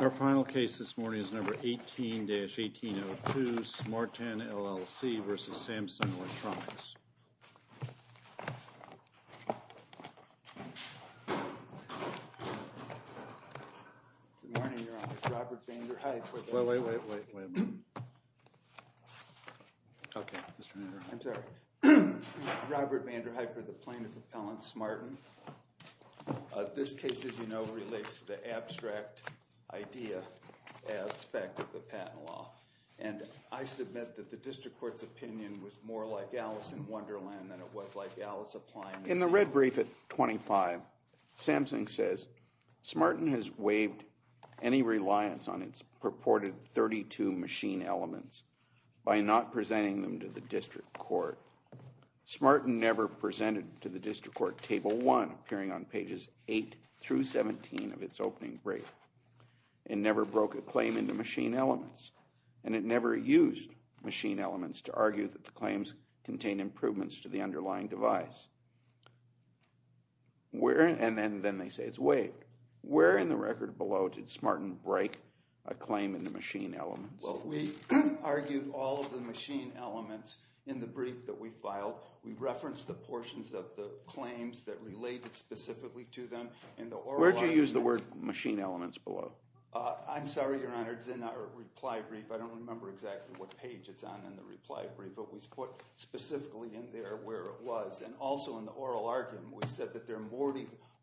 The final case this morning is number 18-1802, Smarten, LLC, versus Samsung Electronics. Good morning, Your Honor. It's Robert Vander Heid for the plaintiff appellant. Wait, wait, wait, wait, wait a minute. Okay, Mr. Vander Heid. I'm sorry. Robert Vander Heid for the plaintiff appellant, Smarten. This case, as you know, relates to the abstract idea aspect of the patent law. And I submit that the district court's opinion was more like Alice in Wonderland than it was like Alice Appliance. In the red brief at 25, Samsung says, Smarten has waived any reliance on its purported 32 machine elements by not presenting them to the district court. Smarten never presented to the district court Table 1, appearing on pages 8 through 17 of its opening brief. It never broke a claim into machine elements. And it never used machine elements to argue that the claims contained improvements to the underlying device. And then they say it's waived. Where in the record below did Smarten break a claim into machine elements? Well, we argued all of the machine elements in the brief that we filed. We referenced the portions of the claims that related specifically to them in the oral argument. Where did you use the word machine elements below? I'm sorry, Your Honor, it's in our reply brief. I don't remember exactly what page it's on in the reply brief, but we put specifically in there where it was. And also in the oral argument, we said that there are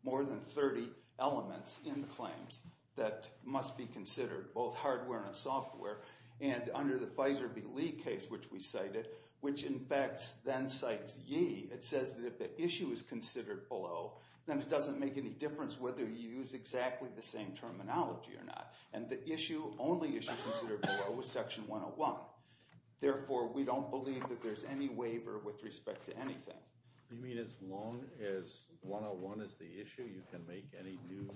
more than 30 elements in the claims that must be considered, both hardware and software. And under the Pfizer v. Lee case, which we cited, which in fact then cites Yee, it says that if the issue is considered below, then it doesn't make any difference whether you use exactly the same terminology or not. And the only issue considered below was Section 101. Therefore, we don't believe that there's any waiver with respect to anything. You mean as long as 101 is the issue, you can make any new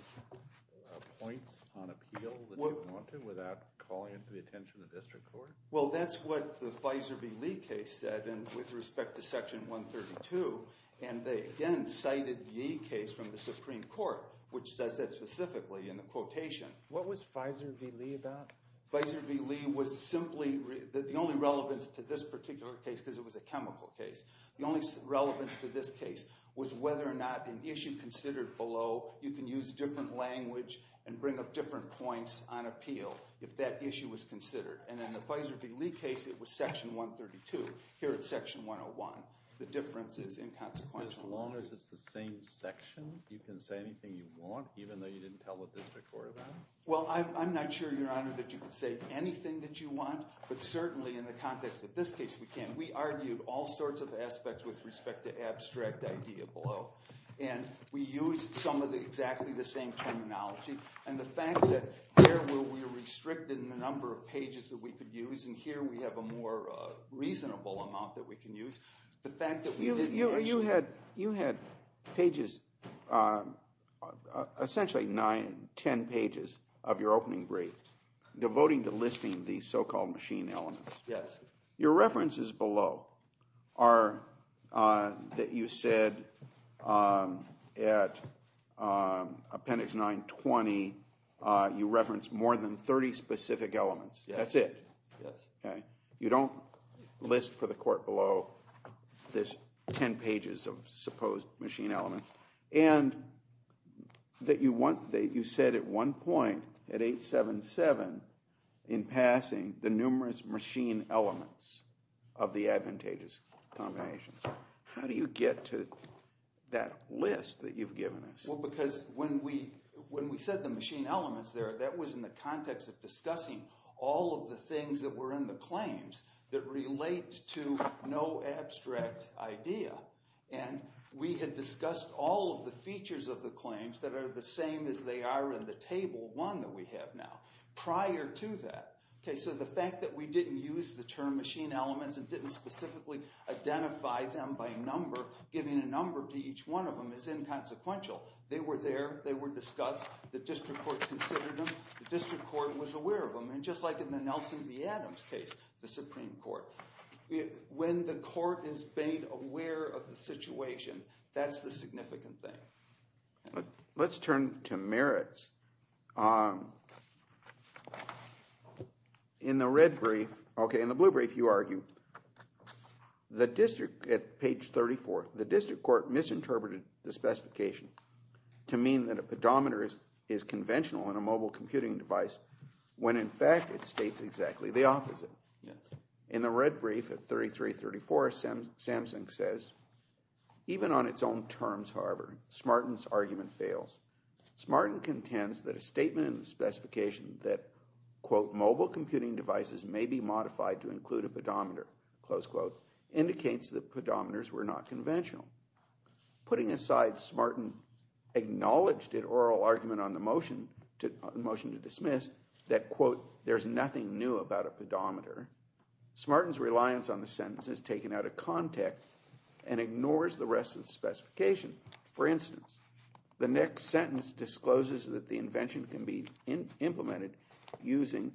points on appeal that you want to without calling into the attention of the district court? Well, that's what the Pfizer v. Lee case said with respect to Section 132. And they again cited Yee case from the Supreme Court, which says that specifically in the quotation. What was Pfizer v. Lee about? Pfizer v. Lee was simply the only relevance to this particular case because it was a chemical case. The only relevance to this case was whether or not an issue considered below, you can use different language and bring up different points on appeal if that issue was considered. And in the Pfizer v. Lee case, it was Section 132. Here it's Section 101. The difference is inconsequential. As long as it's the same section, you can say anything you want even though you didn't tell the district court about it? Well, I'm not sure, Your Honor, that you can say anything that you want. But certainly in the context of this case, we can. We argued all sorts of aspects with respect to abstract idea below. And we used some of the exactly the same terminology. And the fact that here we're restricted in the number of pages that we could use, and here we have a more reasonable amount that we can use. You had pages, essentially nine, ten pages of your opening brief devoting to listing these so-called machine elements. Yes. Your references below are that you said at Appendix 920 you referenced more than 30 specific elements. That's it. Yes. Okay. You don't list for the court below this ten pages of supposed machine elements. And that you said at one point, at 877, in passing, the numerous machine elements of the advantageous combinations. How do you get to that list that you've given us? Well, because when we said the machine elements there, that was in the context of discussing all of the things that were in the claims that relate to no abstract idea. And we had discussed all of the features of the claims that are the same as they are in the Table 1 that we have now prior to that. Okay, so the fact that we didn't use the term machine elements and didn't specifically identify them by number, giving a number to each one of them, is inconsequential. They were there. They were discussed. The district court considered them. The district court was aware of them. And just like in the Nelson v. Adams case, the Supreme Court, when the court is made aware of the situation, that's the significant thing. Let's turn to merits. In the red brief, okay, in the blue brief you argue, the district, at page 34, the district court misinterpreted the specification to mean that a pedometer is conventional in a mobile computing device when in fact it states exactly the opposite. In the red brief at 33, 34, Samsung says, even on its own terms, however, Smarten's argument fails. Smarten contends that a statement in the specification that, quote, mobile computing devices may be modified to include a pedometer, close quote, indicates that pedometers were not conventional. Putting aside Smarten's acknowledged oral argument on the motion to dismiss that, quote, there's nothing new about a pedometer, Smarten's reliance on the sentence is taken out of context and ignores the rest of the specification. For instance, the next sentence discloses that the invention can be implemented using,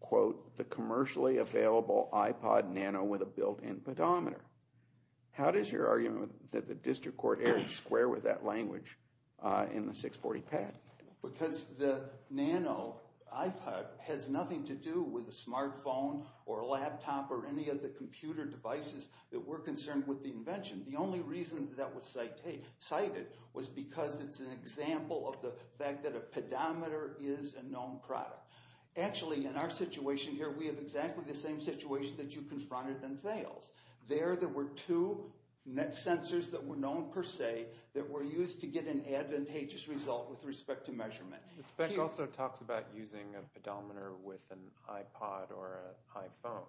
quote, the commercially available iPod Nano with a built-in pedometer. How does your argument that the district court err in square with that language in the 640 pad? Because the Nano iPod has nothing to do with a smartphone or a laptop or any of the computer devices that were concerned with the invention. The only reason that was cited was because it's an example of the fact that a pedometer is a known product. Actually, in our situation here, we have exactly the same situation that you confronted in Thales. There, there were two sensors that were known per se that were used to get an advantageous result with respect to measurement. The spec also talks about using a pedometer with an iPod or an iPhone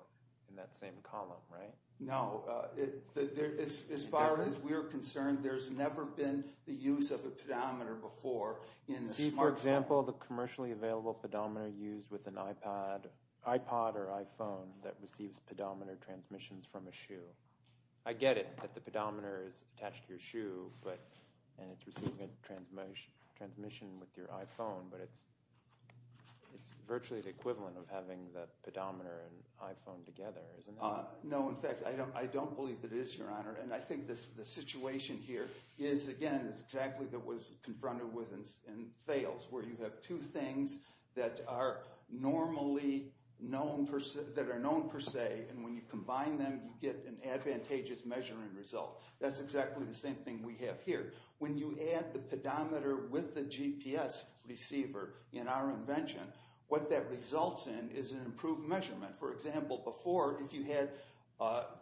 in that same column, right? No. As far as we're concerned, there's never been the use of a pedometer before in a smartphone. For example, the commercially available pedometer used with an iPod or iPhone that receives pedometer transmissions from a shoe. I get it that the pedometer is attached to your shoe and it's receiving a transmission with your iPhone, but it's virtually the equivalent of having the pedometer and iPhone together, isn't it? No. In fact, I don't believe it is, Your Honor. I think the situation here is, again, exactly what was confronted with in Thales, where you have two things that are known per se, and when you combine them, you get an advantageous measuring result. That's exactly the same thing we have here. When you add the pedometer with the GPS receiver in our invention, what that results in is an improved measurement. For example, before, if you had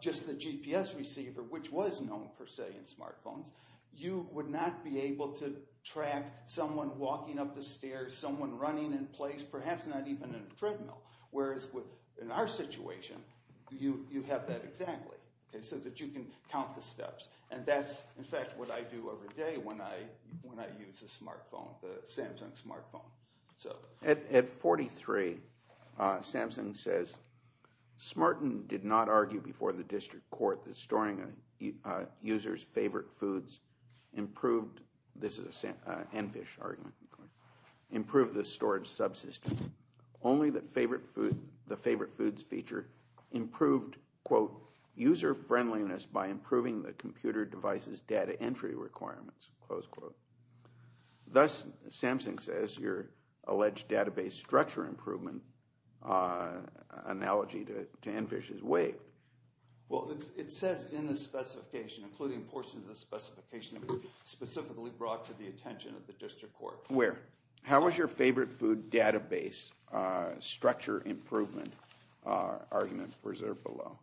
just the GPS receiver, which was known per se in smartphones, you would not be able to track someone walking up the stairs, someone running in place, perhaps not even in a treadmill. Whereas in our situation, you have that exactly, so that you can count the steps. And that's, in fact, what I do every day when I use a smartphone, the Samsung smartphone. At 43, Samsung says, Smarten did not argue before the district court that storing a user's favorite foods improved, this is an Enfish argument, improved the storage subsystem. Only the favorite foods feature improved, quote, user friendliness by improving the computer device's data entry requirements, close quote. Thus, Samsung says your alleged database structure improvement analogy to Enfish is vague. Well, it says in the specification, including portions of the specification that was specifically brought to the attention of the district court. Where? How is your favorite food database structure improvement argument preserved below?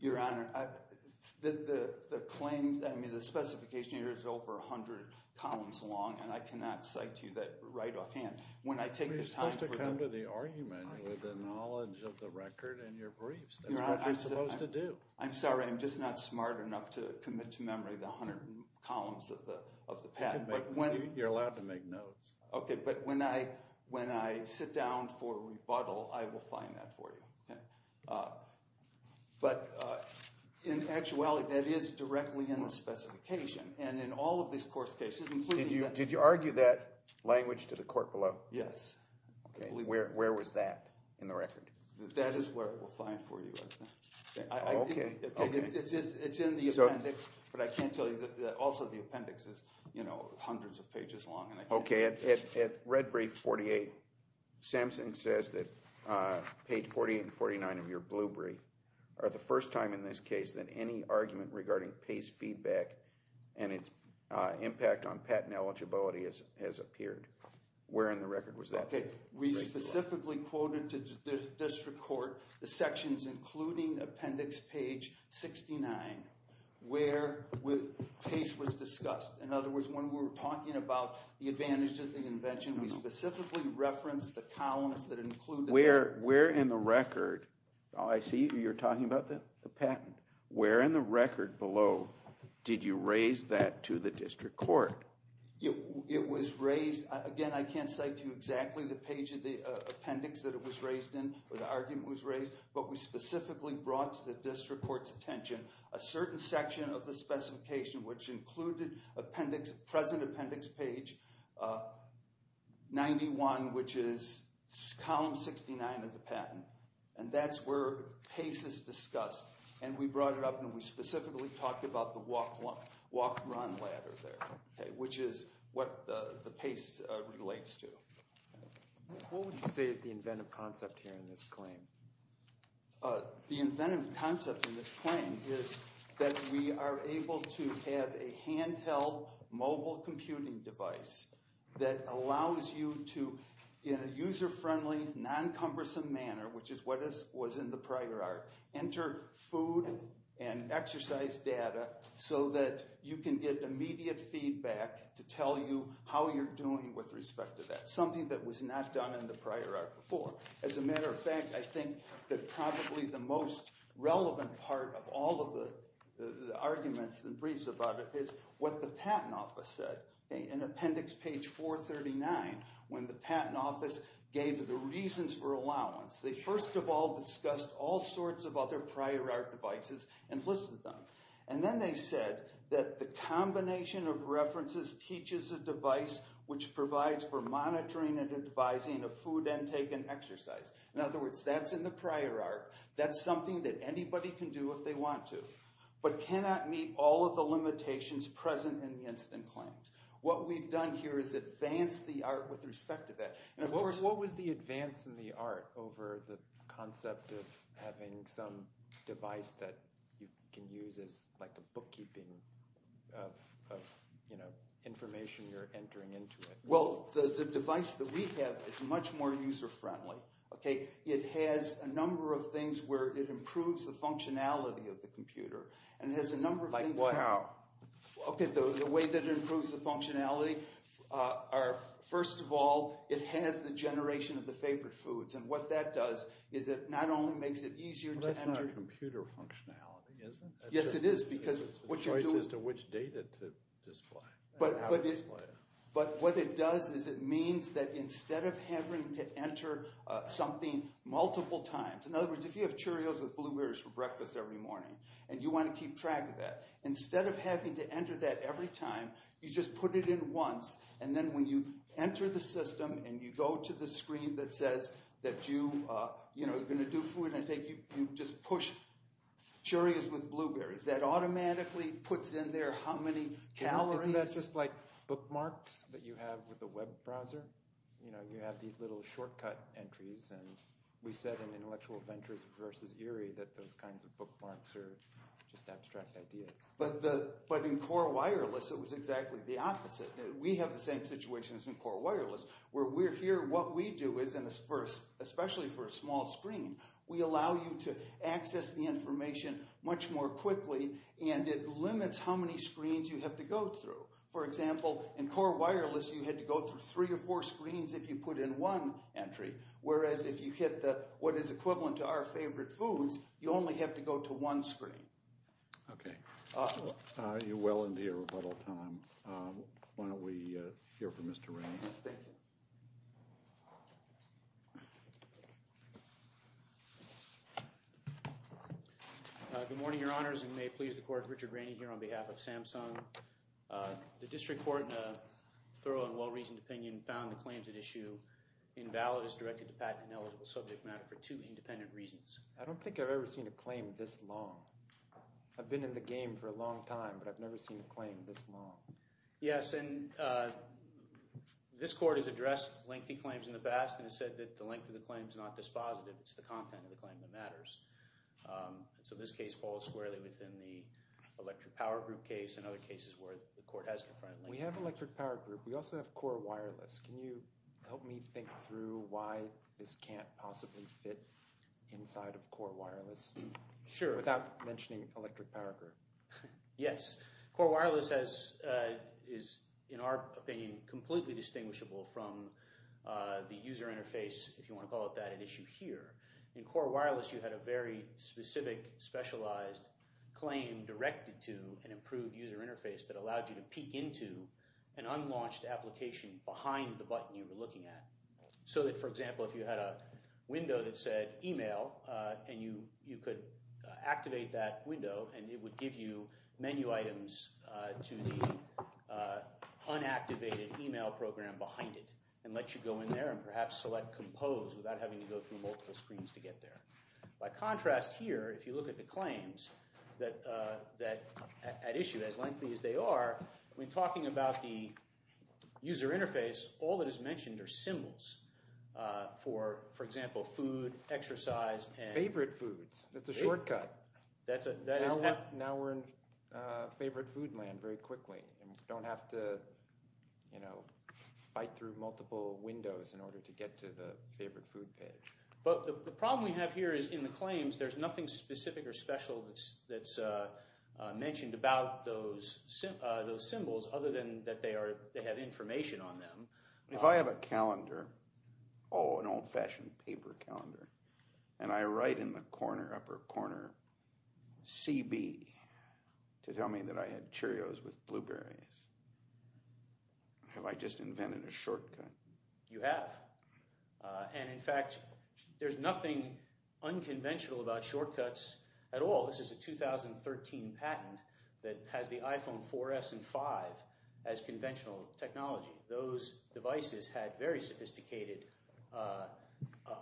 Your Honor, the claims, I mean, the specification here is over 100 columns long, and I cannot cite to you that right offhand. When I take the time. You're supposed to come to the argument with the knowledge of the record and your briefs, that's what you're supposed to do. I'm sorry, I'm just not smart enough to commit to memory the 100 columns of the patent. You're allowed to make notes. Okay, but when I sit down for rebuttal, I will find that for you. But in actuality, that is directly in the specification. And in all of these court cases. Did you argue that language to the court below? Yes. Where was that in the record? That is where it will find for you. Okay. It's in the appendix, but I can't tell you that also the appendix is, you know, hundreds of pages long. Okay, at red brief 48, Samson says that page 48 and 49 of your blue brief are the first time in this case that any argument regarding PACE feedback and its impact on patent eligibility has appeared. Where in the record was that? We specifically quoted to the district court the sections including appendix page 69 where PACE was discussed. In other words, when we were talking about the advantages of the invention, we specifically referenced the columns that include that. Where in the record, I see you're talking about the patent. Where in the record below did you raise that to the district court? It was raised, again, I can't cite to you exactly the page of the appendix that it was raised in or the argument was raised. But we specifically brought to the district court's attention a certain section of the specification which included appendix, present appendix page 91, which is column 69 of the patent. And that's where PACE is discussed. And we brought it up and we specifically talked about the walk-run ladder there, which is what the PACE relates to. What would you say is the inventive concept here in this claim? The inventive concept in this claim is that we are able to have a handheld mobile computing device that allows you to, in a user-friendly, non-cumbersome manner, which is what was in the prior art, enter food and exercise data so that you can get immediate feedback to tell you how you're doing with respect to that. Something that was not done in the prior art before. As a matter of fact, I think that probably the most relevant part of all of the arguments and briefs about it is what the patent office said. In appendix page 439, when the patent office gave the reasons for allowance, they first of all discussed all sorts of other prior art devices and listed them. And then they said that the combination of references teaches a device which provides for monitoring and advising of food intake and exercise. In other words, that's in the prior art. That's something that anybody can do if they want to, but cannot meet all of the limitations present in the instant claims. What we've done here is advance the art with respect to that. What was the advance in the art over the concept of having some device that you can use as a bookkeeping of information you're entering into it? Well, the device that we have is much more user-friendly. It has a number of things where it improves the functionality of the computer. Like what? Okay, the way that it improves the functionality are, first of all, it has the generation of the favorite foods. And what that does is it not only makes it easier to enter – But that's not computer functionality, is it? Yes, it is, because what you're doing – It's a choice as to which data to display. But what it does is it means that instead of having to enter something multiple times – in other words, if you have Cheerios with blueberries for breakfast every morning and you want to keep track of that, instead of having to enter that every time, you just put it in once. And then when you enter the system and you go to the screen that says that you're going to do food, you just push Cheerios with blueberries. That automatically puts in there how many calories – Isn't that just like bookmarks that you have with a web browser? You have these little shortcut entries. We said in Intellectual Ventures vs. Erie that those kinds of bookmarks are just abstract ideas. But in Core Wireless, it was exactly the opposite. We have the same situation as in Core Wireless. Where we're here, what we do is, especially for a small screen, we allow you to access the information much more quickly, and it limits how many screens you have to go through. For example, in Core Wireless, you had to go through three or four screens if you put in one entry. Whereas if you hit what is equivalent to our favorite foods, you only have to go to one screen. Okay. You're well into your rebuttal time. Why don't we hear from Mr. Rainey. Thank you. Good morning, Your Honors, and may it please the Court, Richard Rainey here on behalf of Samsung. The District Court, in a thorough and well-reasoned opinion, found the claims at issue invalid as directed to patent-ineligible subject matter for two independent reasons. I don't think I've ever seen a claim this long. I've been in the game for a long time, but I've never seen a claim this long. Yes, and this Court has addressed lengthy claims in the past and has said that the length of the claim is not dispositive. It's the content of the claim that matters. So this case falls squarely within the electric power group case and other cases where the Court has confronted lengthy claims. We have electric power group. We also have core wireless. Can you help me think through why this can't possibly fit inside of core wireless? Sure. Without mentioning electric power group. Yes. Core wireless is, in our opinion, completely distinguishable from the user interface, if you want to call it that, at issue here. In core wireless, you had a very specific, specialized claim directed to an improved user interface that allowed you to peek into an unlaunched application behind the button you were looking at. So that, for example, if you had a window that said email and you could activate that window and it would give you menu items to the unactivated email program behind it and let you go in there and perhaps select compose without having to go through multiple screens to get there. By contrast here, if you look at the claims at issue, as lengthy as they are, when talking about the user interface, all that is mentioned are symbols. For example, food, exercise, and – Favorite foods. That's a shortcut. That is – Now we're in favorite food land very quickly and don't have to fight through multiple windows in order to get to the favorite food page. But the problem we have here is in the claims, there's nothing specific or special that's mentioned about those symbols other than that they have information on them. If I have a calendar, oh, an old-fashioned paper calendar, and I write in the corner, upper corner, CB to tell me that I had Cheerios with blueberries, have I just invented a shortcut? You have. And in fact, there's nothing unconventional about shortcuts at all. This is a 2013 patent that has the iPhone 4S and 5 as conventional technology. Those devices had very sophisticated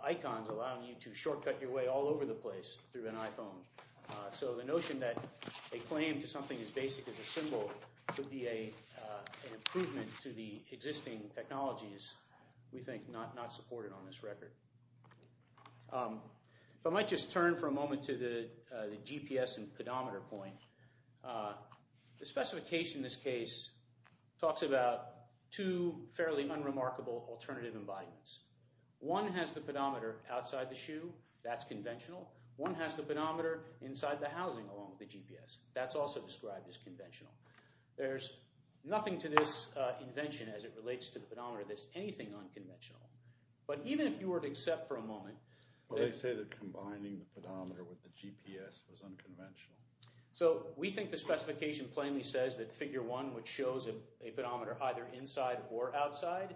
icons allowing you to shortcut your way all over the place through an iPhone. So the notion that a claim to something as basic as a symbol could be an improvement to the existing technology is, we think, not supported on this record. If I might just turn for a moment to the GPS and pedometer point, the specification in this case talks about two fairly unremarkable alternative embodiments. One has the pedometer outside the shoe. That's conventional. One has the pedometer inside the housing along with the GPS. That's also described as conventional. There's nothing to this invention as it relates to the pedometer that's anything unconventional. But even if you were to accept for a moment— Well, they say that combining the pedometer with the GPS was unconventional. So we think the specification plainly says that figure one, which shows a pedometer either inside or outside,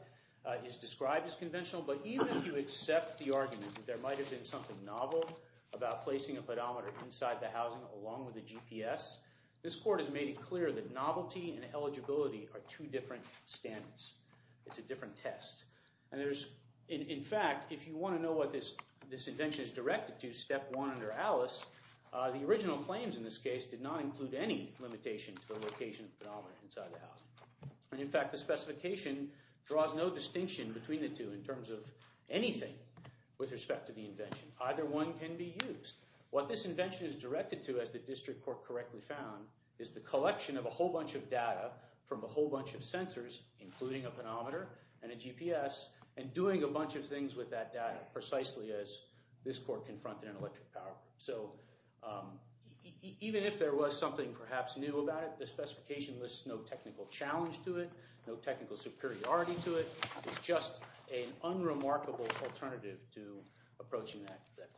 is described as conventional. But even if you accept the argument that there might have been something novel about placing a pedometer inside the housing along with the GPS, this court has made it clear that novelty and eligibility are two different standards. It's a different test. In fact, if you want to know what this invention is directed to, step one under Alice, the original claims in this case did not include any limitation to the location of the pedometer inside the housing. And in fact, the specification draws no distinction between the two in terms of anything with respect to the invention. Either one can be used. What this invention is directed to, as the district court correctly found, is the collection of a whole bunch of data from a whole bunch of sensors, including a pedometer and a GPS, and doing a bunch of things with that data, precisely as this court confronted in Electric Power. So even if there was something perhaps new about it, the specification lists no technical challenge to it, no technical superiority to it. It's just an unremarkable alternative to approaching that claim.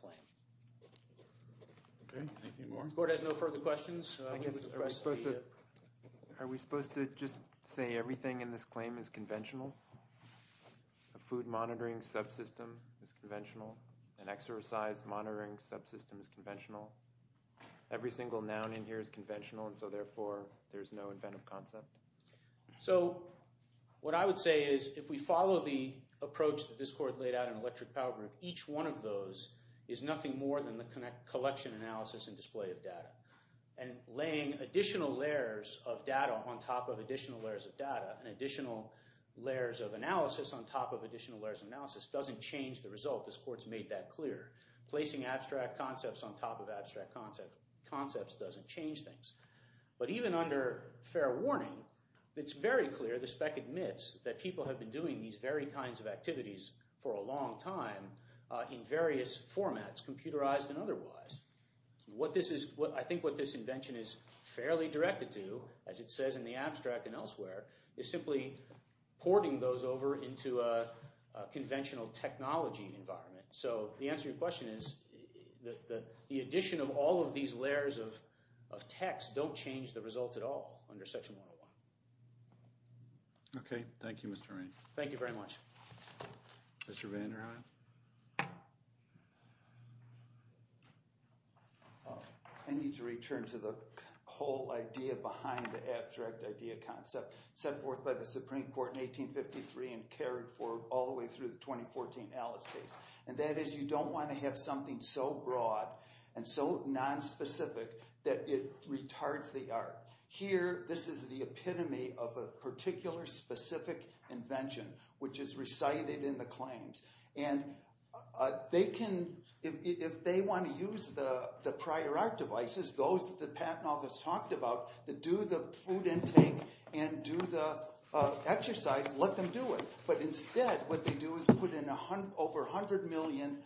Okay, thank you, Warren. The court has no further questions. Are we supposed to just say everything in this claim is conventional? A food monitoring subsystem is conventional. An exercise monitoring subsystem is conventional. Every single noun in here is conventional, and so therefore there's no inventive concept. So what I would say is if we follow the approach that this court laid out in Electric Power Group, each one of those is nothing more than the collection, analysis, and display of data. And laying additional layers of data on top of additional layers of data and additional layers of analysis on top of additional layers of analysis doesn't change the result. This court's made that clear. Placing abstract concepts on top of abstract concepts doesn't change things. But even under fair warning, it's very clear, the spec admits, that people have been doing these very kinds of activities for a long time in various formats, computerized and otherwise. I think what this invention is fairly directed to, as it says in the abstract and elsewhere, is simply porting those over into a conventional technology environment. So the answer to your question is that the addition of all of these layers of text don't change the result at all under Section 101. Okay. Thank you, Mr. Rainey. Thank you very much. Mr. Vanderhaan? I need to return to the whole idea behind the abstract idea concept set forth by the Supreme Court in 1853 and carried all the way through the 2014 Alice case. And that is you don't want to have something so broad and so nonspecific that it retards the art. Here, this is the epitome of a particular specific invention, which is recited in the claims. And they can, if they want to use the prior art devices, those that the patent office talked about, that do the food intake and do the exercise, let them do it. But instead what they do is put in over 100 million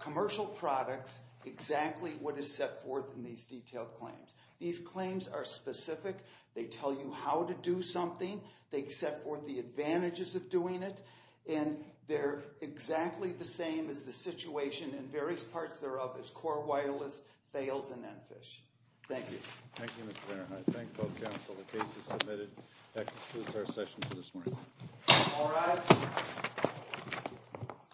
commercial products exactly what is set forth in these detailed claims. These claims are specific. They tell you how to do something. They set forth the advantages of doing it. And they're exactly the same as the situation in various parts thereof as core wireless fails in NPHISH. Thank you. Thank you, Mr. Vanderhaan. I thank both counsel. The case is submitted. That concludes our session for this morning.